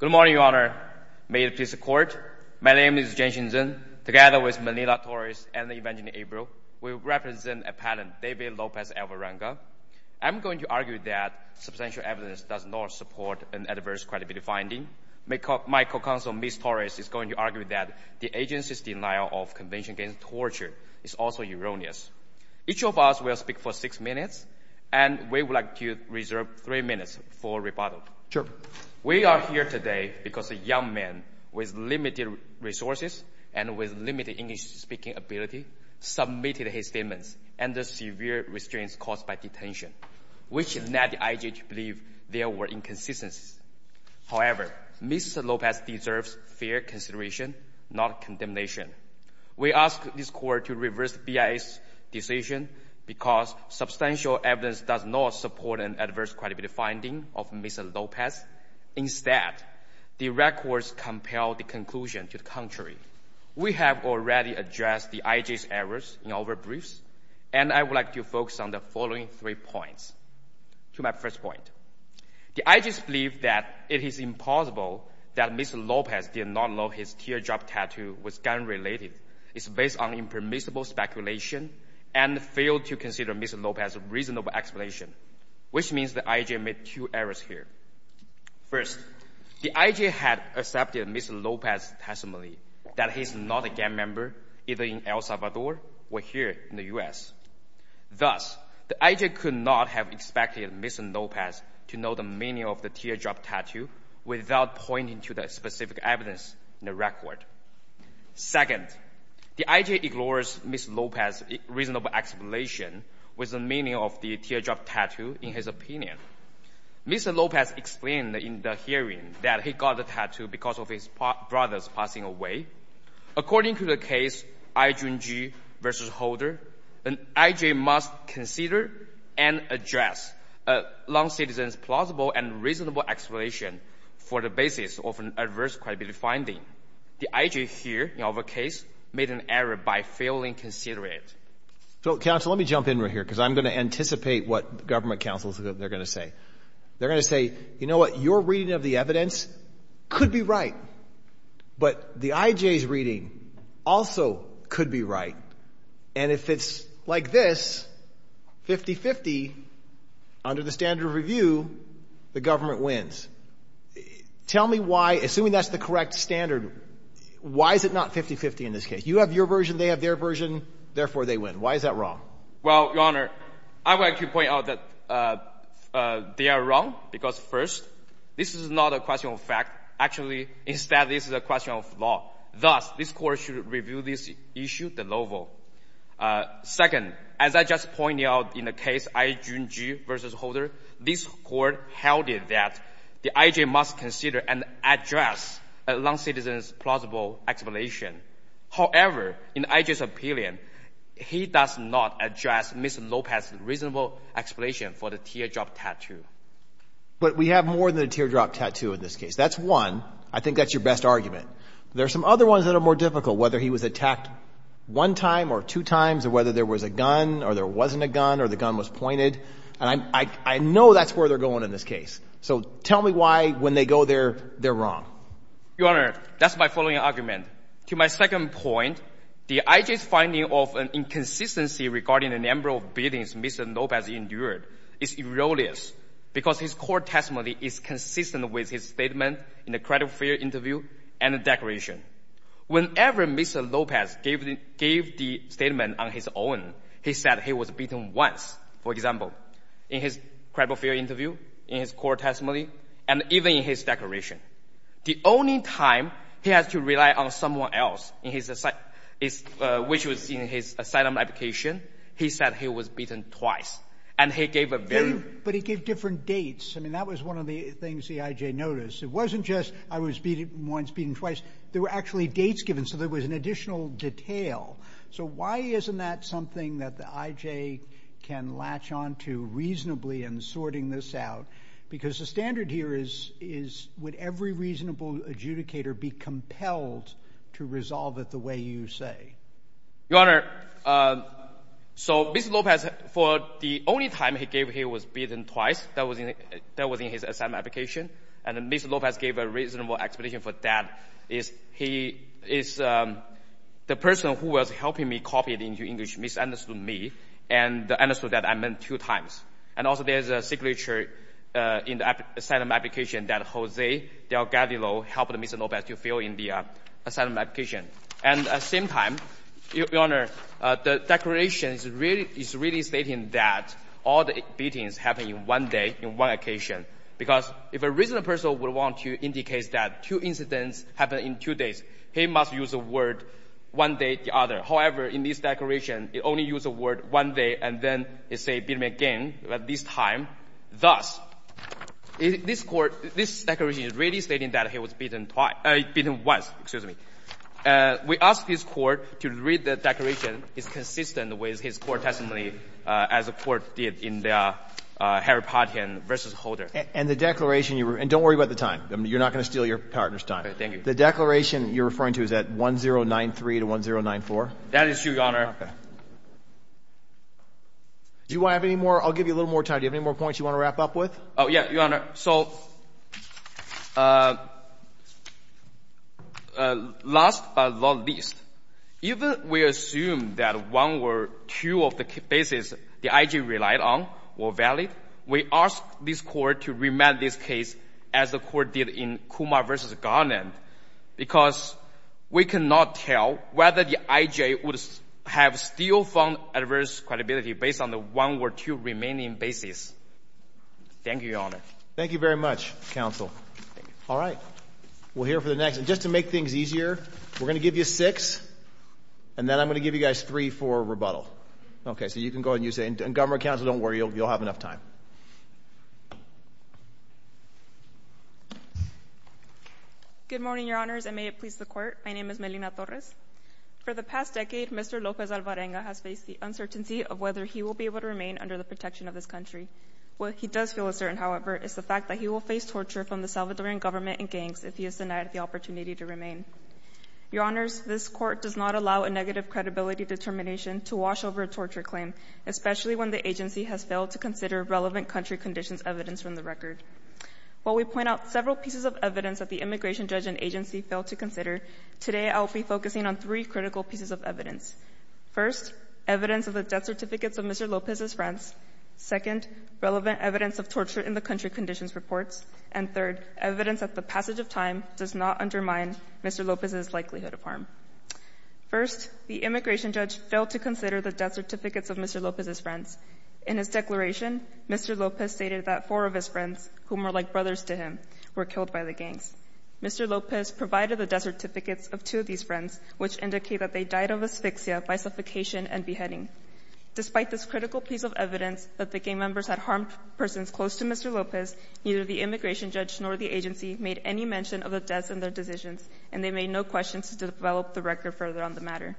Good morning, Your Honor. May it please the Court, my name is Jiang Xinzhen. Together with Melinda Torres and Evangeline Abreu, we represent appellant David Lopez-Alvarenga. I'm going to argue that substantial evidence does not support an adverse credibility finding. My co-counsel, Ms. Torres, is going to argue that the agency's denial of conviction against torture is also erroneous. Each of us will speak for six minutes, and we would like to reserve three minutes for rebuttal. We are here today because a young man with limited resources and with limited English-speaking ability submitted his statements under severe restraints caused by detention, which led the IGH to believe there were inconsistencies. However, Ms. Lopez deserves fair consideration, not condemnation. We ask this Court to reverse BIA's decision because substantial evidence does not support an adverse credibility finding of Mr. Lopez. Instead, the records compel the conclusion to the contrary. We have already addressed the IGH's errors in our briefs, and I would like to focus on the following three points. To my first point, the IGHs believe that it is impossible that Mr. Lopez did not know his teardrop tattoo was gun-related. It is based on impermissible speculation and failed to consider Mr. Lopez's reasonable explanation, which means the IGH made two errors here. First, the IGH had accepted Mr. Lopez's testimony that he is not a gang member, either in El Salvador or here in the U.S. Thus, the IGH could not have expected Mr. Lopez to know the meaning of the teardrop tattoo without pointing to the specific evidence in the record. Second, the IGH ignores Mr. Lopez's reasonable explanation with the meaning of the teardrop tattoo in his opinion. Mr. Lopez explained in the hearing that he got the tattoo because of his brothers passing away. According to the case IJUNJI v. Holder, an IJ must consider and address a non-citizen's plausible and reasonable explanation for the basis of an adverse credibility finding. The IJ here, in our case, made an error by failing to consider it. So, counsel, let me jump in right here because I'm going to anticipate what government counsels are going to say. They're going to say, you know what, your reading of the evidence could be right, but the IJ's reading also could be right. And if it's like this, 50-50, under the standard of review, the government wins. Tell me why, assuming that's the correct standard, why is it not 50-50 in this case? You have your version, they have their version, therefore, they win. Why is that wrong? Well, Your Honor, I would like to point out that they are wrong because, first, this is not a question of fact. Actually, instead, this is a question of law. Thus, this Court should review this issue de novo. Second, as I just pointed out in the case IJUNJI v. Holder, this Court held that the IJ must consider and address a non-citizen's plausible explanation. However, in IJ's opinion, he does not address Ms. Lopez's reasonable explanation for the teardrop tattoo. But we have more than a teardrop tattoo in this case. That's one. I think that's your best argument. There are some other ones that are more difficult, whether he was attacked one time or two times, or whether there was a gun, or there wasn't a gun, or the gun was pointed. And I know that's where they're going in this case. So tell me why, when they go there, they're wrong. Your Honor, that's my following argument. To my second point, the IJ's finding of an inconsistency regarding the number of beatings Mr. Lopez endured is erroneous, because his court testimony is consistent with his statement in the credible fear interview and the declaration. Whenever Mr. Lopez gave the statement on his own, he said he was beaten once, for example, in his credible fear interview, in his court testimony, and even in his declaration. The only time he has to rely on someone else, which was in his asylum application, he said he was beaten twice. And he gave a very... But he gave different dates. I mean, that was one of the things the IJ noticed. It wasn't just I was once beaten twice. There were actually dates given, so there was an additional detail. So why isn't that something that the IJ can latch onto reasonably in sorting this out? Because the standard here is, would every reasonable adjudicator be compelled to resolve it the way you say? Your Honor, so Mr. Lopez, for the only time he gave he was beaten twice. That was in his asylum application. And Mr. Lopez gave a reasonable explanation for that. He is the person who was helping me copy it into English, misunderstood me, and understood that I meant two times. And also, there's a signature in the asylum application that Jose Delgadillo helped Mr. Lopez to fill in the asylum application. And at the same time, Your Honor, the declaration is really stating that all the beatings happened in one day, in one occasion. Because if a reasonable person would want to indicate that two incidents happened in two days, he must use the word one day, the other. However, in this declaration, he only used the word one day, and then he say beat me again at this time. Thus, this court, this declaration is really stating that he was beaten once. We ask this court to read the declaration. It's consistent with his court testimony as the court did in the Harry Parton v. Holder. And the declaration, and don't worry about the time. You're not going to steal your partner's time. Thank you. The declaration you're referring to, is that 1093 to 1094? That is true, Your Honor. Okay. Do you have any more? I'll give you a little more time. Do you have any more points you want to wrap up with? Oh, yeah, Your Honor. So last but not least, even we assume that one or two of the cases the I.G. relied on were valid, we ask this court to remand this case as the court did in Kumar v. Garland, because we cannot tell whether the I.G. would have still found adverse credibility based on the one or two remaining cases. Thank you, Your Honor. Thank you very much, Counsel. All right. We'll hear for the next. And just to make things easier, we're going to give you six, and then I'm going to give you guys three for rebuttal. Okay, so you can go ahead and you say, and Governor Counsel, don't worry, you'll have enough time. Good morning, Your Honors, and may it please the court. My name is Melina Torres. For the past decade, Mr. Lopez Alvarenga has faced the uncertainty of whether he will be able to remain under the protection of this country. What he does feel is certain, however, is the fact that he will face torture from the Salvadoran government and gangs if he is denied the opportunity to remain. Your Honors, this court does not allow a negative credibility determination to wash over a torture claim, especially when the agency has failed to consider relevant country conditions evidenced from the record. While we point out several pieces of evidence that the immigration judge and agency failed to consider, today I'll be focusing on three critical pieces of evidence. First, evidence of the death certificates of Mr. Lopez's friends. Second, relevant evidence of torture in the country conditions reports. And third, evidence that the passage of time does not undermine Mr. Lopez's likelihood of harm. First, the immigration judge failed to consider the death certificates of Mr. Lopez's friends. In his declaration, Mr. Lopez stated that four of his friends, whom are like brothers to him, were killed by the gangs. Mr. Lopez provided the death certificates of two of these friends, which indicate that they died of asphyxia by suffocation and beheading. Despite this critical piece of evidence that the gang members had harmed persons close to Mr. Lopez, neither the immigration judge nor the agency made any mention of the deaths in their decisions, and they made no questions to develop the record further on the matter.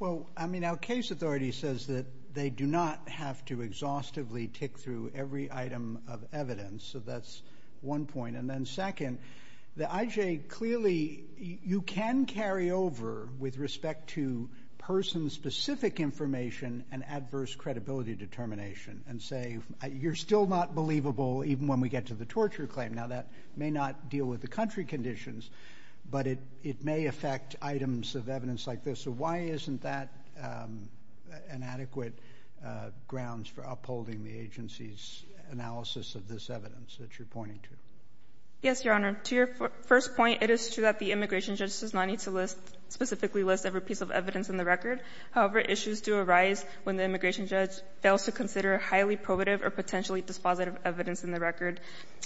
Well, I mean, our case authority says that they do not have to exhaustively tick through every item of evidence. So that's one point. And then IJ, clearly, you can carry over with respect to person-specific information and adverse credibility determination and say, you're still not believable even when we get to the torture claim. Now, that may not deal with the country conditions, but it may affect items of evidence like this. So why isn't that an adequate grounds for upholding the agency's analysis of this evidence that you're pointing to? Yes, Your Honor. To your first point, it is true that the immigration judge does not need to specifically list every piece of evidence in the record. However, issues do arise when the immigration judge fails to consider highly probative or potentially dispositive evidence in the record.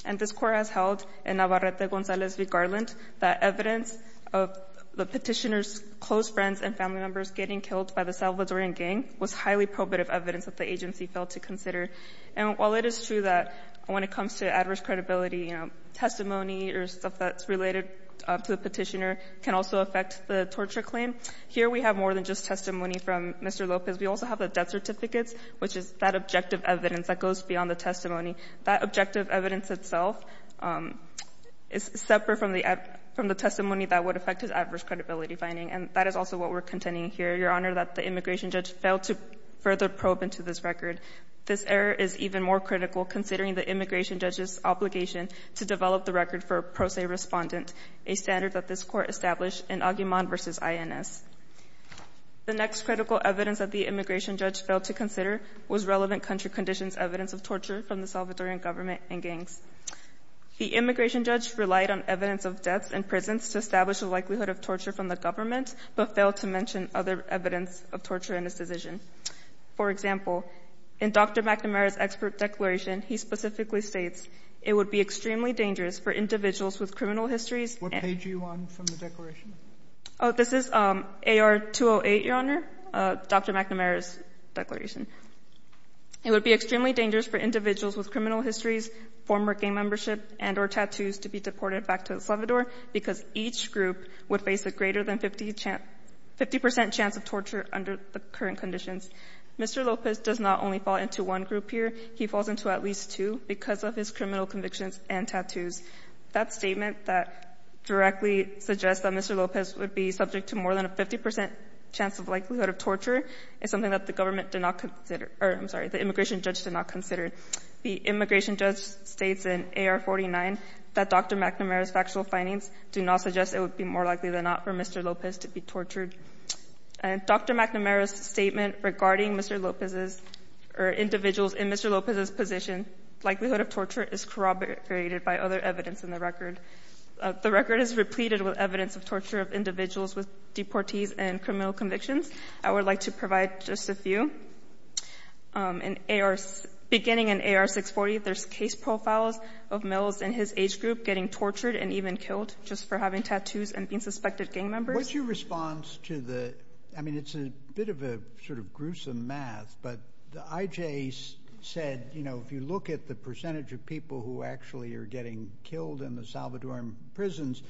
And this Court has held in Navarrete-Gonzalez v. Garland that evidence of the petitioner's close friends and family members getting killed by the Salvadoran gang was highly probative evidence that the agency failed to consider. And while it is true that when it comes to adverse credibility, you know, testimony or stuff that's related to the petitioner can also affect the torture claim, here we have more than just testimony from Mr. Lopez. We also have the death certificates, which is that objective evidence that goes beyond the testimony. That objective evidence itself is separate from the testimony that would affect his adverse credibility finding. And that is also what we're contending here, Your Honor, that the immigration judge failed to further probe into this record. This error is even more critical considering the immigration judge's obligation to develop the record for a pro se respondent, a standard that this Court established in Aguiman v. INS. The next critical evidence that the immigration judge failed to consider was relevant country conditions evidence of torture from the Salvadoran government and gangs. The immigration judge relied on evidence of deaths in prisons to establish the likelihood of torture from the government, but failed to mention other evidence of torture in his decision. For example, in Dr. McNamara's expert declaration, he specifically states, it would be extremely dangerous for individuals with criminal histories. Sotomayor, what page are you on from the declaration? Oh, this is AR-208, Your Honor, Dr. McNamara's declaration. It would be extremely dangerous for individuals with criminal histories, former gang membership, and or tattoos to be deported back to El Salvador because each group would face a greater than 50 percent chance of torture under the current conditions. Mr. Lopez does not only fall into one group here. He falls into at least two because of his criminal convictions and tattoos. That statement that directly suggests that Mr. Lopez would be subject to more than a 50 percent chance of likelihood of torture is something that the government did not consider or, I'm sorry, the immigration judge did not consider. The immigration judge states in AR-49 that Dr. McNamara's factual findings do not suggest it would be more likely than not for Mr. Lopez to be tortured. Dr. McNamara's statement regarding Mr. Lopez's or individuals in Mr. Lopez's position, likelihood of torture is corroborated by other evidence in the record. The record is repleted with evidence of torture of individuals with deportees and criminal convictions. I would like to provide just a few. Beginning in AR-640, there's case profiles of males in his age group getting tortured and even killed just for having tattoos and being suspected gang members. What's your response to the, I mean it's a bit of a sort of gruesome math, but the IJs said, you know, if you look at the percentage of people who actually are getting killed in the Salvadoran prisons,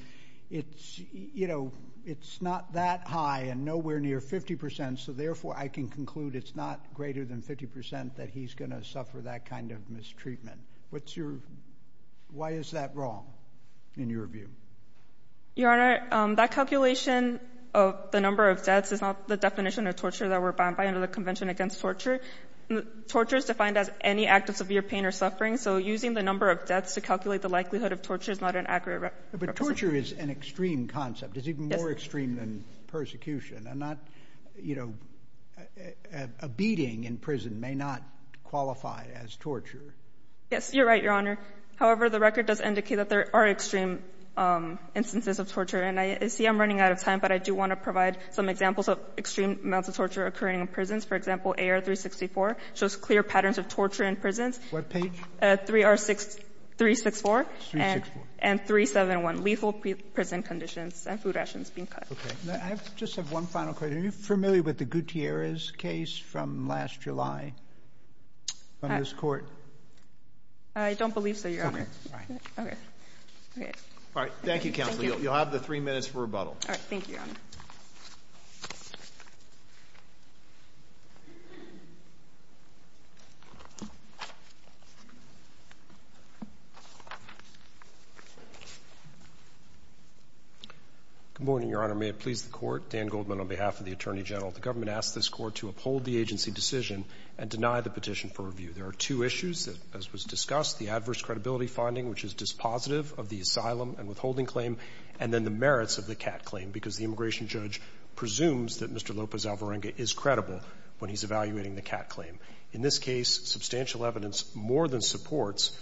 it's, you know, it's not that high and nowhere near 50 percent so therefore I can conclude it's not greater than 50 percent that he's going to suffer that kind of mistreatment. What's your, why is that wrong in your view? Your Honor, that calculation of the number of deaths is not the definition of torture that we're bound by under the Convention Against Torture. Torture is defined as any act of severe pain or suffering, so using the number of deaths to calculate the likelihood of torture is not an accurate representation. But torture is an extreme concept. It's even more extreme than persecution and not, you know, a beating in prison may not qualify as torture. Yes, you're right, Your Honor. However, the record does indicate that there are extreme instances of torture. And I see I'm running out of time, but I do want to provide some examples of extreme amounts of torture occurring in prisons. For example, AR-364 shows clear patterns of torture in prisons. What page? 3R-6, 364. 364. And 371, lethal prison conditions and food rations being cut. Okay. I just have one final question. Are you familiar with the Gutierrez case from last July from this Court? I don't believe so, Your Honor. Okay. All right. Thank you, Counsel. You'll have the three minutes for rebuttal. All right. Thank you, Your Honor. Good morning, Your Honor. May it please the Court? Dan Goldman on behalf of the Attorney General. The government asked this Court to uphold the agency decision and deny the petition for review. There are two issues that, as was discussed, the adverse credibility finding, which is dispositive of the asylum and withholding claim, and then the merits of the CAT claim, because the immigration judge presumes that Mr. Lopez Alvarenga is credible when he's evaluating the CAT claim. In this case, substantial evidence more than supports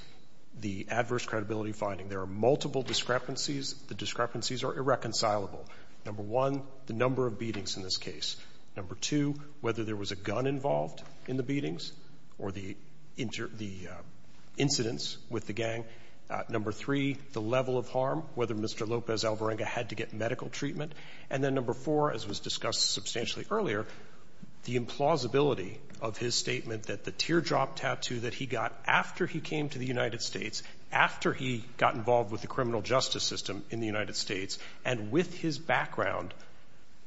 the adverse credibility finding. There are multiple discrepancies. The discrepancies are irreconcilable. Number one, the number of beatings in this case. Number two, whether there was a gun involved in the beatings or the incidents with the gang. Number three, the level of harm, whether Mr. Lopez Alvarenga had to get medical treatment. And then number four, as was discussed substantially earlier, the implausibility of his statement that the teardrop tattoo that he got after he came to the United States, after he got involved with the criminal justice system in the United States, and with his background,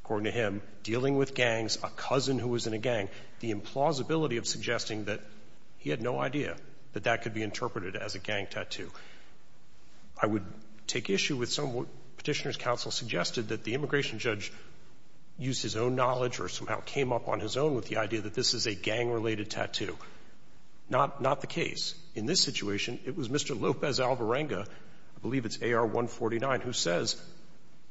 according to him, dealing with gangs, a cousin who was in a gang, the implausibility of suggesting that he had no idea that that could be interpreted as a gang tattoo. I would take issue with some of what Petitioner's counsel suggested, that the immigration judge used his own knowledge or somehow came up on his own with the idea that this is a gang-related tattoo. Not the case. In this situation, it was Mr. Lopez Alvarenga, I believe it's AR-149, who says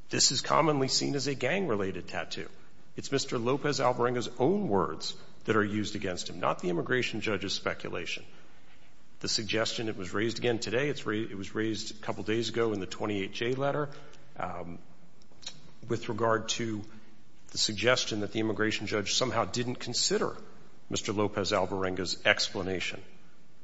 this is commonly seen as a gang-related tattoo. It's Mr. Lopez Alvarenga's own words that are used against him, not the immigration judge's speculation. The suggestion, it was raised again today, it was raised a couple days ago in the 28-J letter, with regard to the suggestion that the immigration judge somehow didn't consider Mr. Lopez Alvarenga's explanation.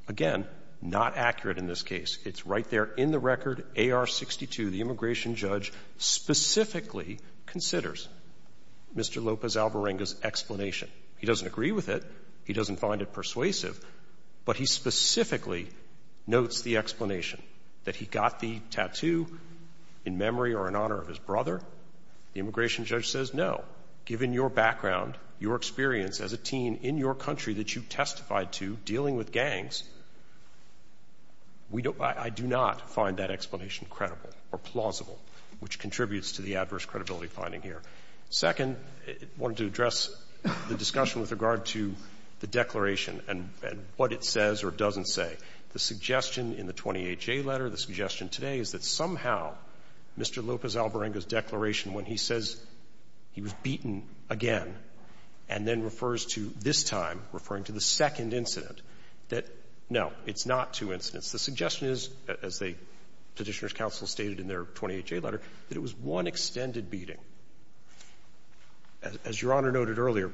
Again, not accurate in this case. It's right there in the record, AR-62, the immigration judge specifically considers Mr. Lopez Alvarenga's explanation. He doesn't agree with it. He doesn't find it persuasive. But he specifically notes the explanation, that he got the tattoo in memory or in honor of his brother. The immigration judge says, no, given your background, your experience as a teen in your country that you testified to dealing with gangs, I do not find that explanation credible or plausible, which contributes to the adverse credibility finding here. Second, I wanted to address the discussion with regard to the declaration and what it says or doesn't say. The suggestion in the 28-J letter, the suggestion today, is that somehow Mr. Lopez Alvarenga's declaration, when he says he was beaten again and then refers to this time, referring to the second incident, that, no, it's not two incidents. The suggestion is, as the Petitioner's counsel stated in their letter, that it was one extended beating. As Your Honor noted earlier,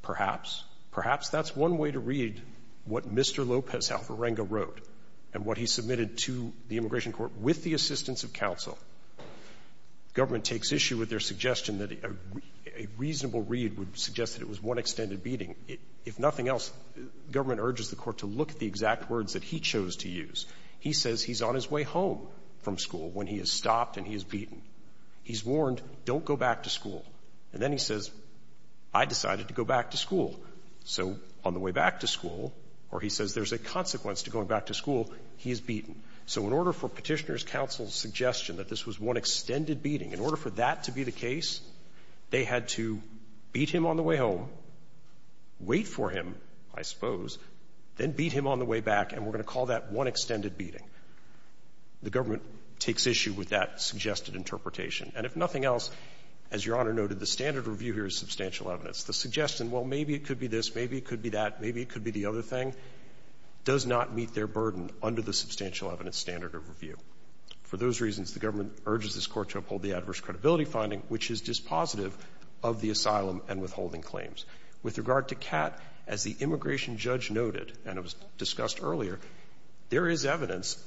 perhaps, perhaps that's one way to read what Mr. Lopez Alvarenga wrote and what he submitted to the immigration court with the assistance of counsel. Government takes issue with their suggestion that a reasonable read would suggest that it was one extended beating. If nothing else, government urges the court to look at the exact words that he chose to use. He says he's on his way home from school when he is stopped and he is beaten. He's warned, don't go back to school. And then he says, I decided to go back to school. So on the way back to school, or he says there's a consequence to going back to school, he is beaten. So in order for Petitioner's counsel's suggestion that this was one extended beating, in order for that to be the case, they had to beat him on the way home, wait for him, I suppose, then beat him on the way back, and we're going to call that one extended beating. The government takes issue with that suggested interpretation. And if nothing else, as Your Honor noted, the standard review here is substantial evidence. The suggestion, well, maybe it could be this, maybe it could be that, maybe it could be the other thing, does not meet their burden under the substantial evidence standard of review. For those reasons, the government urges this court to uphold the adverse credibility finding, which is dispositive of the asylum and withholding claims. With regard to Catt, as the immigration judge noted, and it was discussed earlier, there is evidence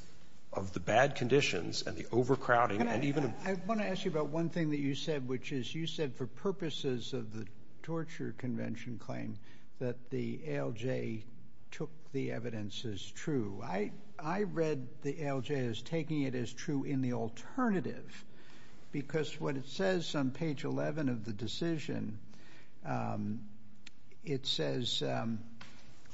of the bad conditions and the overcrowding and even... I want to ask you about one thing that you said, which is, you said for purposes of the torture convention claim that the ALJ took the evidence as true. I read the ALJ as taking it as true in the alternative, because what it says on page 11 of the decision, it says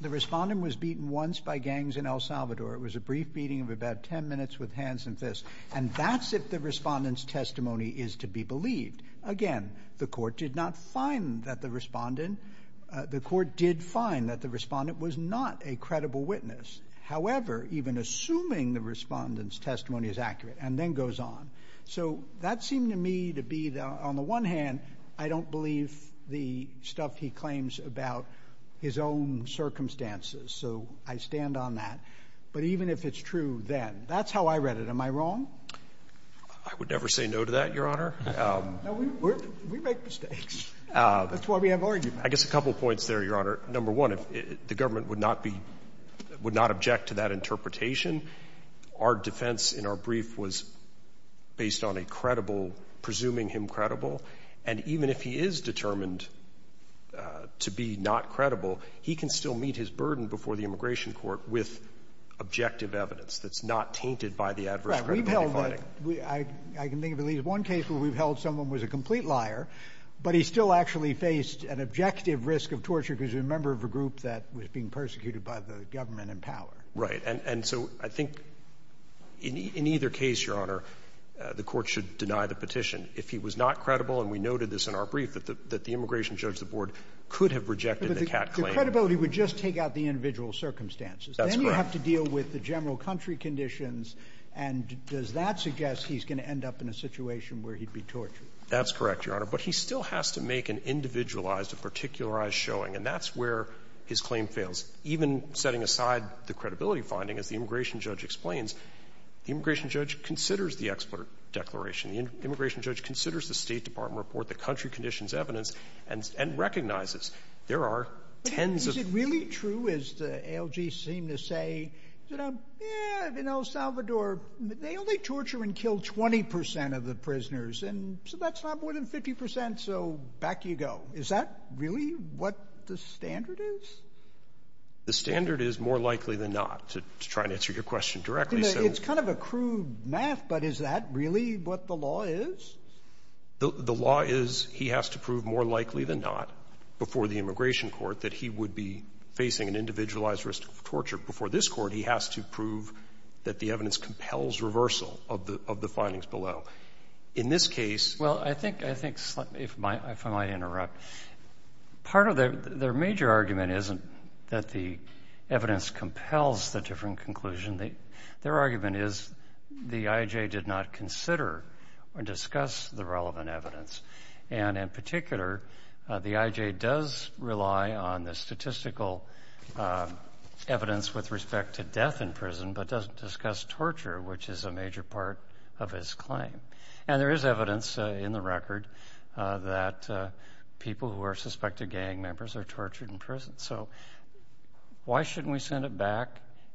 the respondent was beaten once by gangs in El Salvador. It was a brief beating of about ten minutes with hands and fists. And that's if the respondent's testimony is to be believed. Again, the court did not find that the respondent, the court did find that the respondent was not a credible witness. However, even assuming the respondent's testimony is accurate, and then goes on. So that seemed to me to be, on the one hand, I don't believe the stuff he claims about his own circumstances. So I stand on that. But even if it's true then, that's how I read it. Am I wrong? I would never say no to that, Your Honor. No, we make mistakes. That's why we have arguments. I guess a couple points there, Your Honor. Number one, the government would not be, would not object to that interpretation. Our defense in our brief was based on a credible, presuming him credible. And even if he is determined to be not credible, he can still meet his burden before the immigration court with objective evidence that's not tainted by the adverse credibility finding. I can think of at least one case where we've held someone was a complete liar, but he still actually faced an objective risk of torture because he was a member of a group that was being persecuted by the government in power. Right. And so I think in either case, Your Honor, the court should deny the petition if he was not credible. And we noted this in our brief, that the immigration judge, the board, could have rejected the Catt claim. But the credibility would just take out the individual circumstances. That's correct. Then you have to deal with the general country conditions. And does that suggest he's going to end up in a situation where he'd be tortured? That's correct, Your Honor. But he still has to make an individualized, a particularized showing. And that's where his claim fails. Even setting aside the credibility finding, as the immigration judge explains, the immigration judge considers the expert declaration. The immigration judge considers the State Department report, the country conditions evidence, and recognizes there are tens of... Is it really true, as the ALG seem to say, you know, in El Salvador, they only torture and kill 20 percent of the prisoners. And so that's not more than 50 percent. So back you go. Is that really what the standard is? The standard is more likely than not, to try and answer your question directly. It's kind of a crude math, but is that really what the law is? The law is, he has to prove more likely than not, before the immigration court, that he would be facing an individualized risk of torture. Before this court, he has to prove that the evidence compels reversal of the findings below. In this case... Well, I think, if I might interrupt, part of their major argument isn't that the evidence compels the different conclusion. Their argument is the IJ did not consider or discuss the relevant evidence. And in particular, the IJ does rely on the statistical evidence with respect to death in prison, but doesn't discuss torture, which is a major part of his claim. And there is evidence in the record that people who are suspected gang members are tortured in prison. So why shouldn't we send it back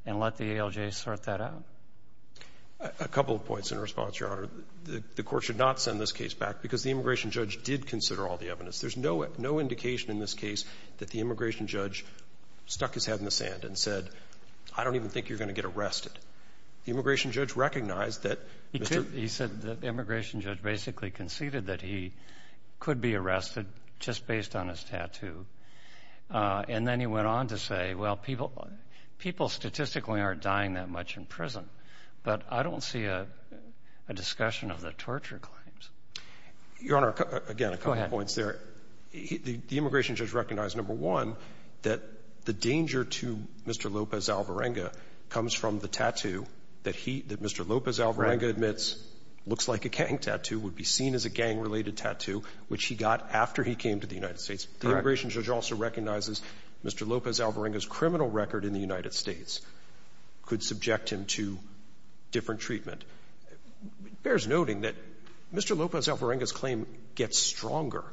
and let the ALJ sort that out? A couple of points in response, Your Honor. The court should not send this case back because the immigration judge did consider all the evidence. There's no indication in this case that the immigration judge stuck his head in the sand and said, I don't even think you're going to get arrested. The immigration judge recognized that... He said the immigration judge basically conceded that he could be arrested just based on his tattoo. And then he went on to say, well, people statistically aren't dying that much in prison, but I don't see a discussion of the torture claims. Your Honor, again, a couple of points there. The immigration judge recognized, number one, that the danger to Mr. Lopez Alvarenga comes from the tattoo that he, that Mr. Lopez Alvarenga admits looks like a gang tattoo, would be seen as a gang-related tattoo, which he got after he came to the United States. The immigration judge also recognizes Mr. Lopez Alvarenga's criminal record in the United States could subject him to different treatment. Bears noting that Mr. Lopez Alvarenga's claim gets stronger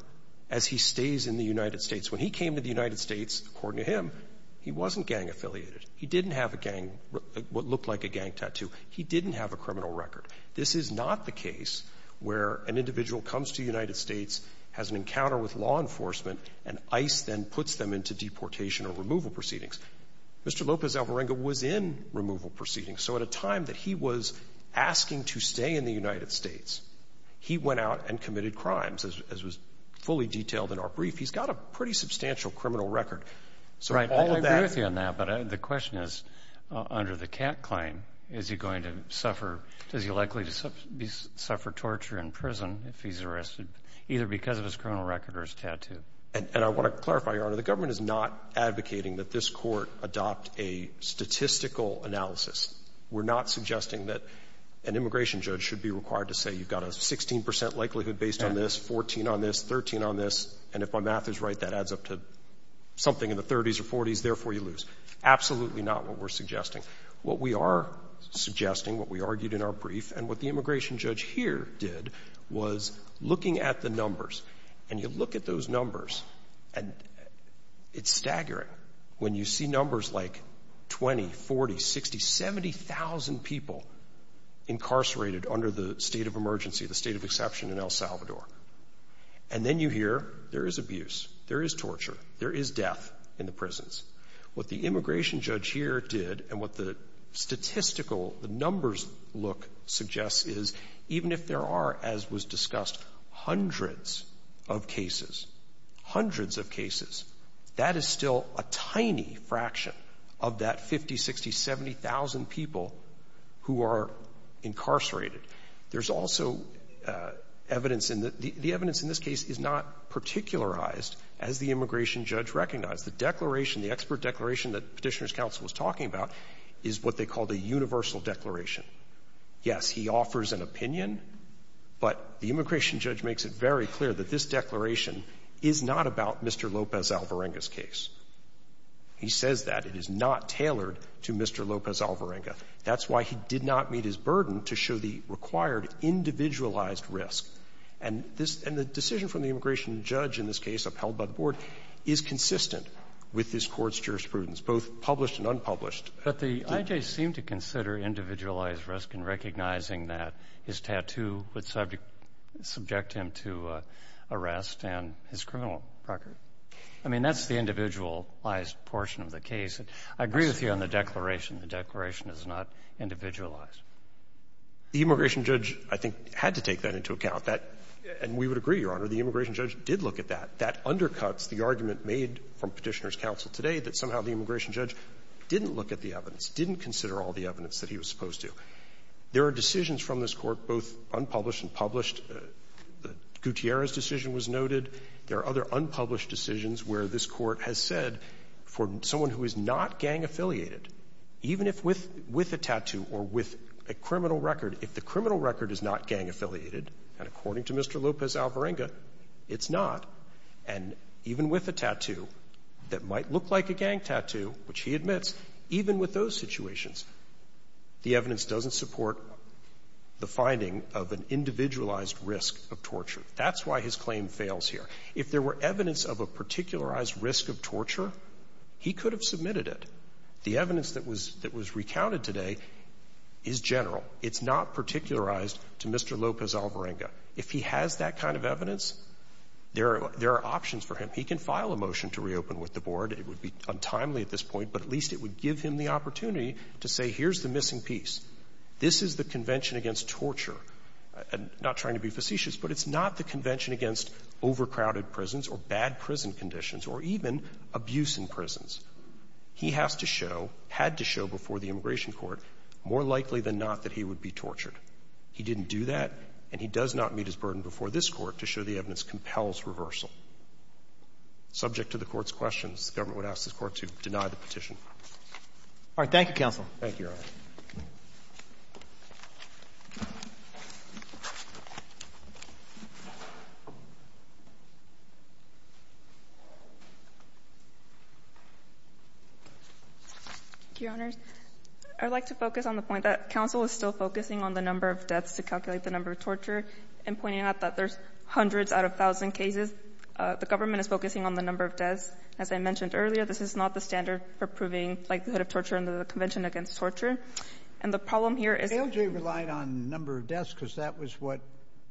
as he stays in the United States. When he came to the United States, according to him, he wasn't gang affiliated. He didn't have a gang, what looked like a gang tattoo. He didn't have a criminal record. This is not the case where an individual comes to the United States, has an encounter with law enforcement, and ICE then puts them into deportation or removal proceedings. Mr. Lopez Alvarenga was in removal proceedings. So at a time that he was asking to stay in the United States, he went out and committed crimes, as was fully detailed in our brief. He's got a pretty substantial criminal record. So I agree with you on that. But the question is, under the cat claim, is he going to suffer? Is he likely to suffer torture in prison if he's arrested either because of his criminal record or his tattoo? And I want to clarify, Your Honor, the government is not advocating that this court adopt a statistical analysis. We're not suggesting that an immigration judge should be required to say you've got a 16 percent likelihood based on this, 14 on this, 13 on this. And if my math is right, that adds up to something in the 30s or 40s. Therefore, you lose. Absolutely not what we're suggesting. What we are suggesting, what we argued in our brief, and what the immigration judge here did was looking at the numbers. And you look at those numbers and it's staggering when you see numbers like 20, 40, 60, 70,000 people incarcerated under the state of emergency, the state of exception in El Salvador. And then you hear there is abuse, there is torture, there is death in the prisons. What the immigration judge here did and what the statistical, the numbers look suggests is even if there are, as was discussed, hundreds of cases, hundreds of cases, that is still a tiny fraction of that 50, 60, 70,000 people who are incarcerated. There's also evidence in the evidence in this case is not particularized as the immigration judge recognized. The declaration, the expert declaration that Petitioner's counsel was talking about is what they called a universal declaration. Yes, he offers an opinion, but the immigration judge makes it very clear that this declaration is not about Mr. Lopez Alvarenga's case. He says that it is not tailored to Mr. Lopez Alvarenga. That's why he did not meet his burden to show the required individualized risk. And this, and the decision from the immigration judge in this case upheld by the board is consistent with this Court's jurisprudence, both published and unpublished. But the I.J. seemed to consider individualized risk in recognizing that his tattoo would subject him to arrest and his criminal record. I mean, that's the individualized portion of the case. I agree with you on the declaration. The declaration is not individualized. The immigration judge, I think, had to take that into account. That, and we would agree, Your Honor, the immigration judge did look at that. That undercuts the argument made from Petitioner's counsel today that somehow the immigration judge didn't look at the evidence, didn't consider all the evidence that he was supposed to. There are decisions from this Court, both unpublished and published. Gutierrez's decision was noted. There are other unpublished decisions where this Court has said for someone who is not gang-affiliated, even if with a tattoo or with a criminal record, if the criminal record is not gang-affiliated, and according to Mr. And even with a tattoo that might look like a gang tattoo, which he admits, even with those situations, the evidence doesn't support the finding of an individualized risk of torture. That's why his claim fails here. If there were evidence of a particularized risk of torture, he could have submitted it. The evidence that was recounted today is general. It's not particularized to Mr. Lopez-Alvarenga. If he has that kind of evidence, there are options for him. He can file a motion to reopen with the board. It would be untimely at this point, but at least it would give him the opportunity to say, here's the missing piece. This is the convention against torture. Not trying to be facetious, but it's not the convention against overcrowded prisons or bad prison conditions or even abuse in prisons. He has to show, had to show before the immigration court, more likely than not that he would be tortured. He didn't do that, and he does not meet his burden before this Court to show the evidence compels reversal. Subject to the Court's questions, the government would ask the Court to deny the petition. Roberts. Thank you, counsel. Thank you, Your Honor. Thank you, Your Honor. I'd like to focus on the point that counsel is still focusing on the number of deaths to calculate the number of torture and pointing out that there's hundreds out of a thousand cases. The government is focusing on the number of deaths. As I mentioned earlier, this is not the standard for proving likelihood of torture under the Convention against Torture. And the problem here is... ALJ relied on number of deaths because that was what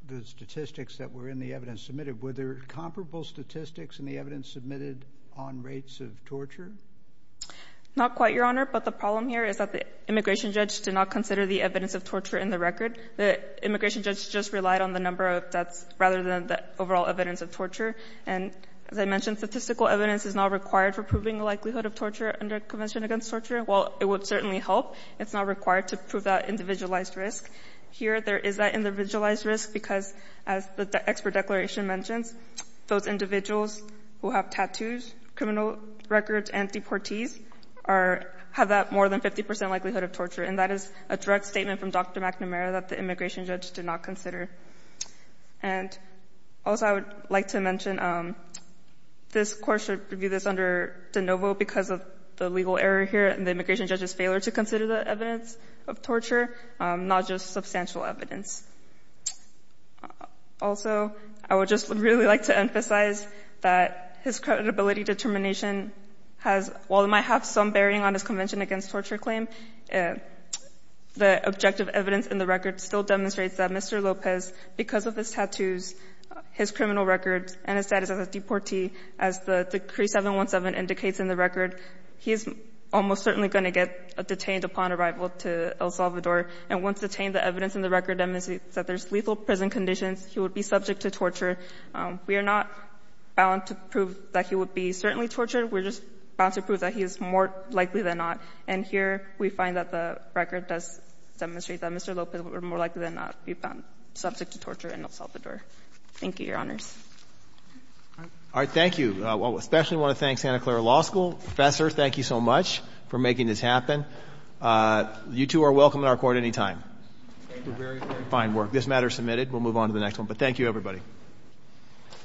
the statistics that were in the evidence submitted. Were there comparable statistics in the evidence submitted on rates of torture? Not quite, Your Honor. But the problem here is that the immigration judge did not consider the evidence of torture in the record. The immigration judge just relied on the number of deaths rather than the overall evidence of torture. And as I mentioned, statistical evidence is not required for proving the likelihood of torture under Convention against Torture. While it would certainly help, it's not required to prove that individualized risk. Here, there is that individualized risk because, as the expert declaration mentions, those individuals who have tattoos, criminal records, and tattoos and deportees have that more than 50% likelihood of torture. And that is a direct statement from Dr. McNamara that the immigration judge did not consider. And also, I would like to mention, this Court should review this under de novo because of the legal error here and the immigration judge's failure to consider the evidence of torture, not just substantial evidence. Also, I would just really like to emphasize that his credibility determination has, while it might have some bearing on his Convention against Torture claim, the objective evidence in the record still demonstrates that Mr. Lopez, because of his tattoos, his criminal records, and his status as a deportee, as the decree 717 indicates in the record, he is almost certainly going to get detained upon arrival to El Salvador. And once detained, the evidence in the record demonstrates that there's lethal prison conditions. He would be subject to torture. We are not bound to prove that he would be certainly tortured. We're just bound to prove that he is more likely than not. And here, we find that the record does demonstrate that Mr. Lopez would be more likely than not be bound, subject to torture in El Salvador. Thank you, Your Honors. All right. Thank you. I especially want to thank Santa Clara Law School. Professor, thank you so much for making this happen. You two are welcome in our Court anytime. Thank you very, very much. Fine work. This matter is submitted. We'll move on to the next one. But thank you, everybody.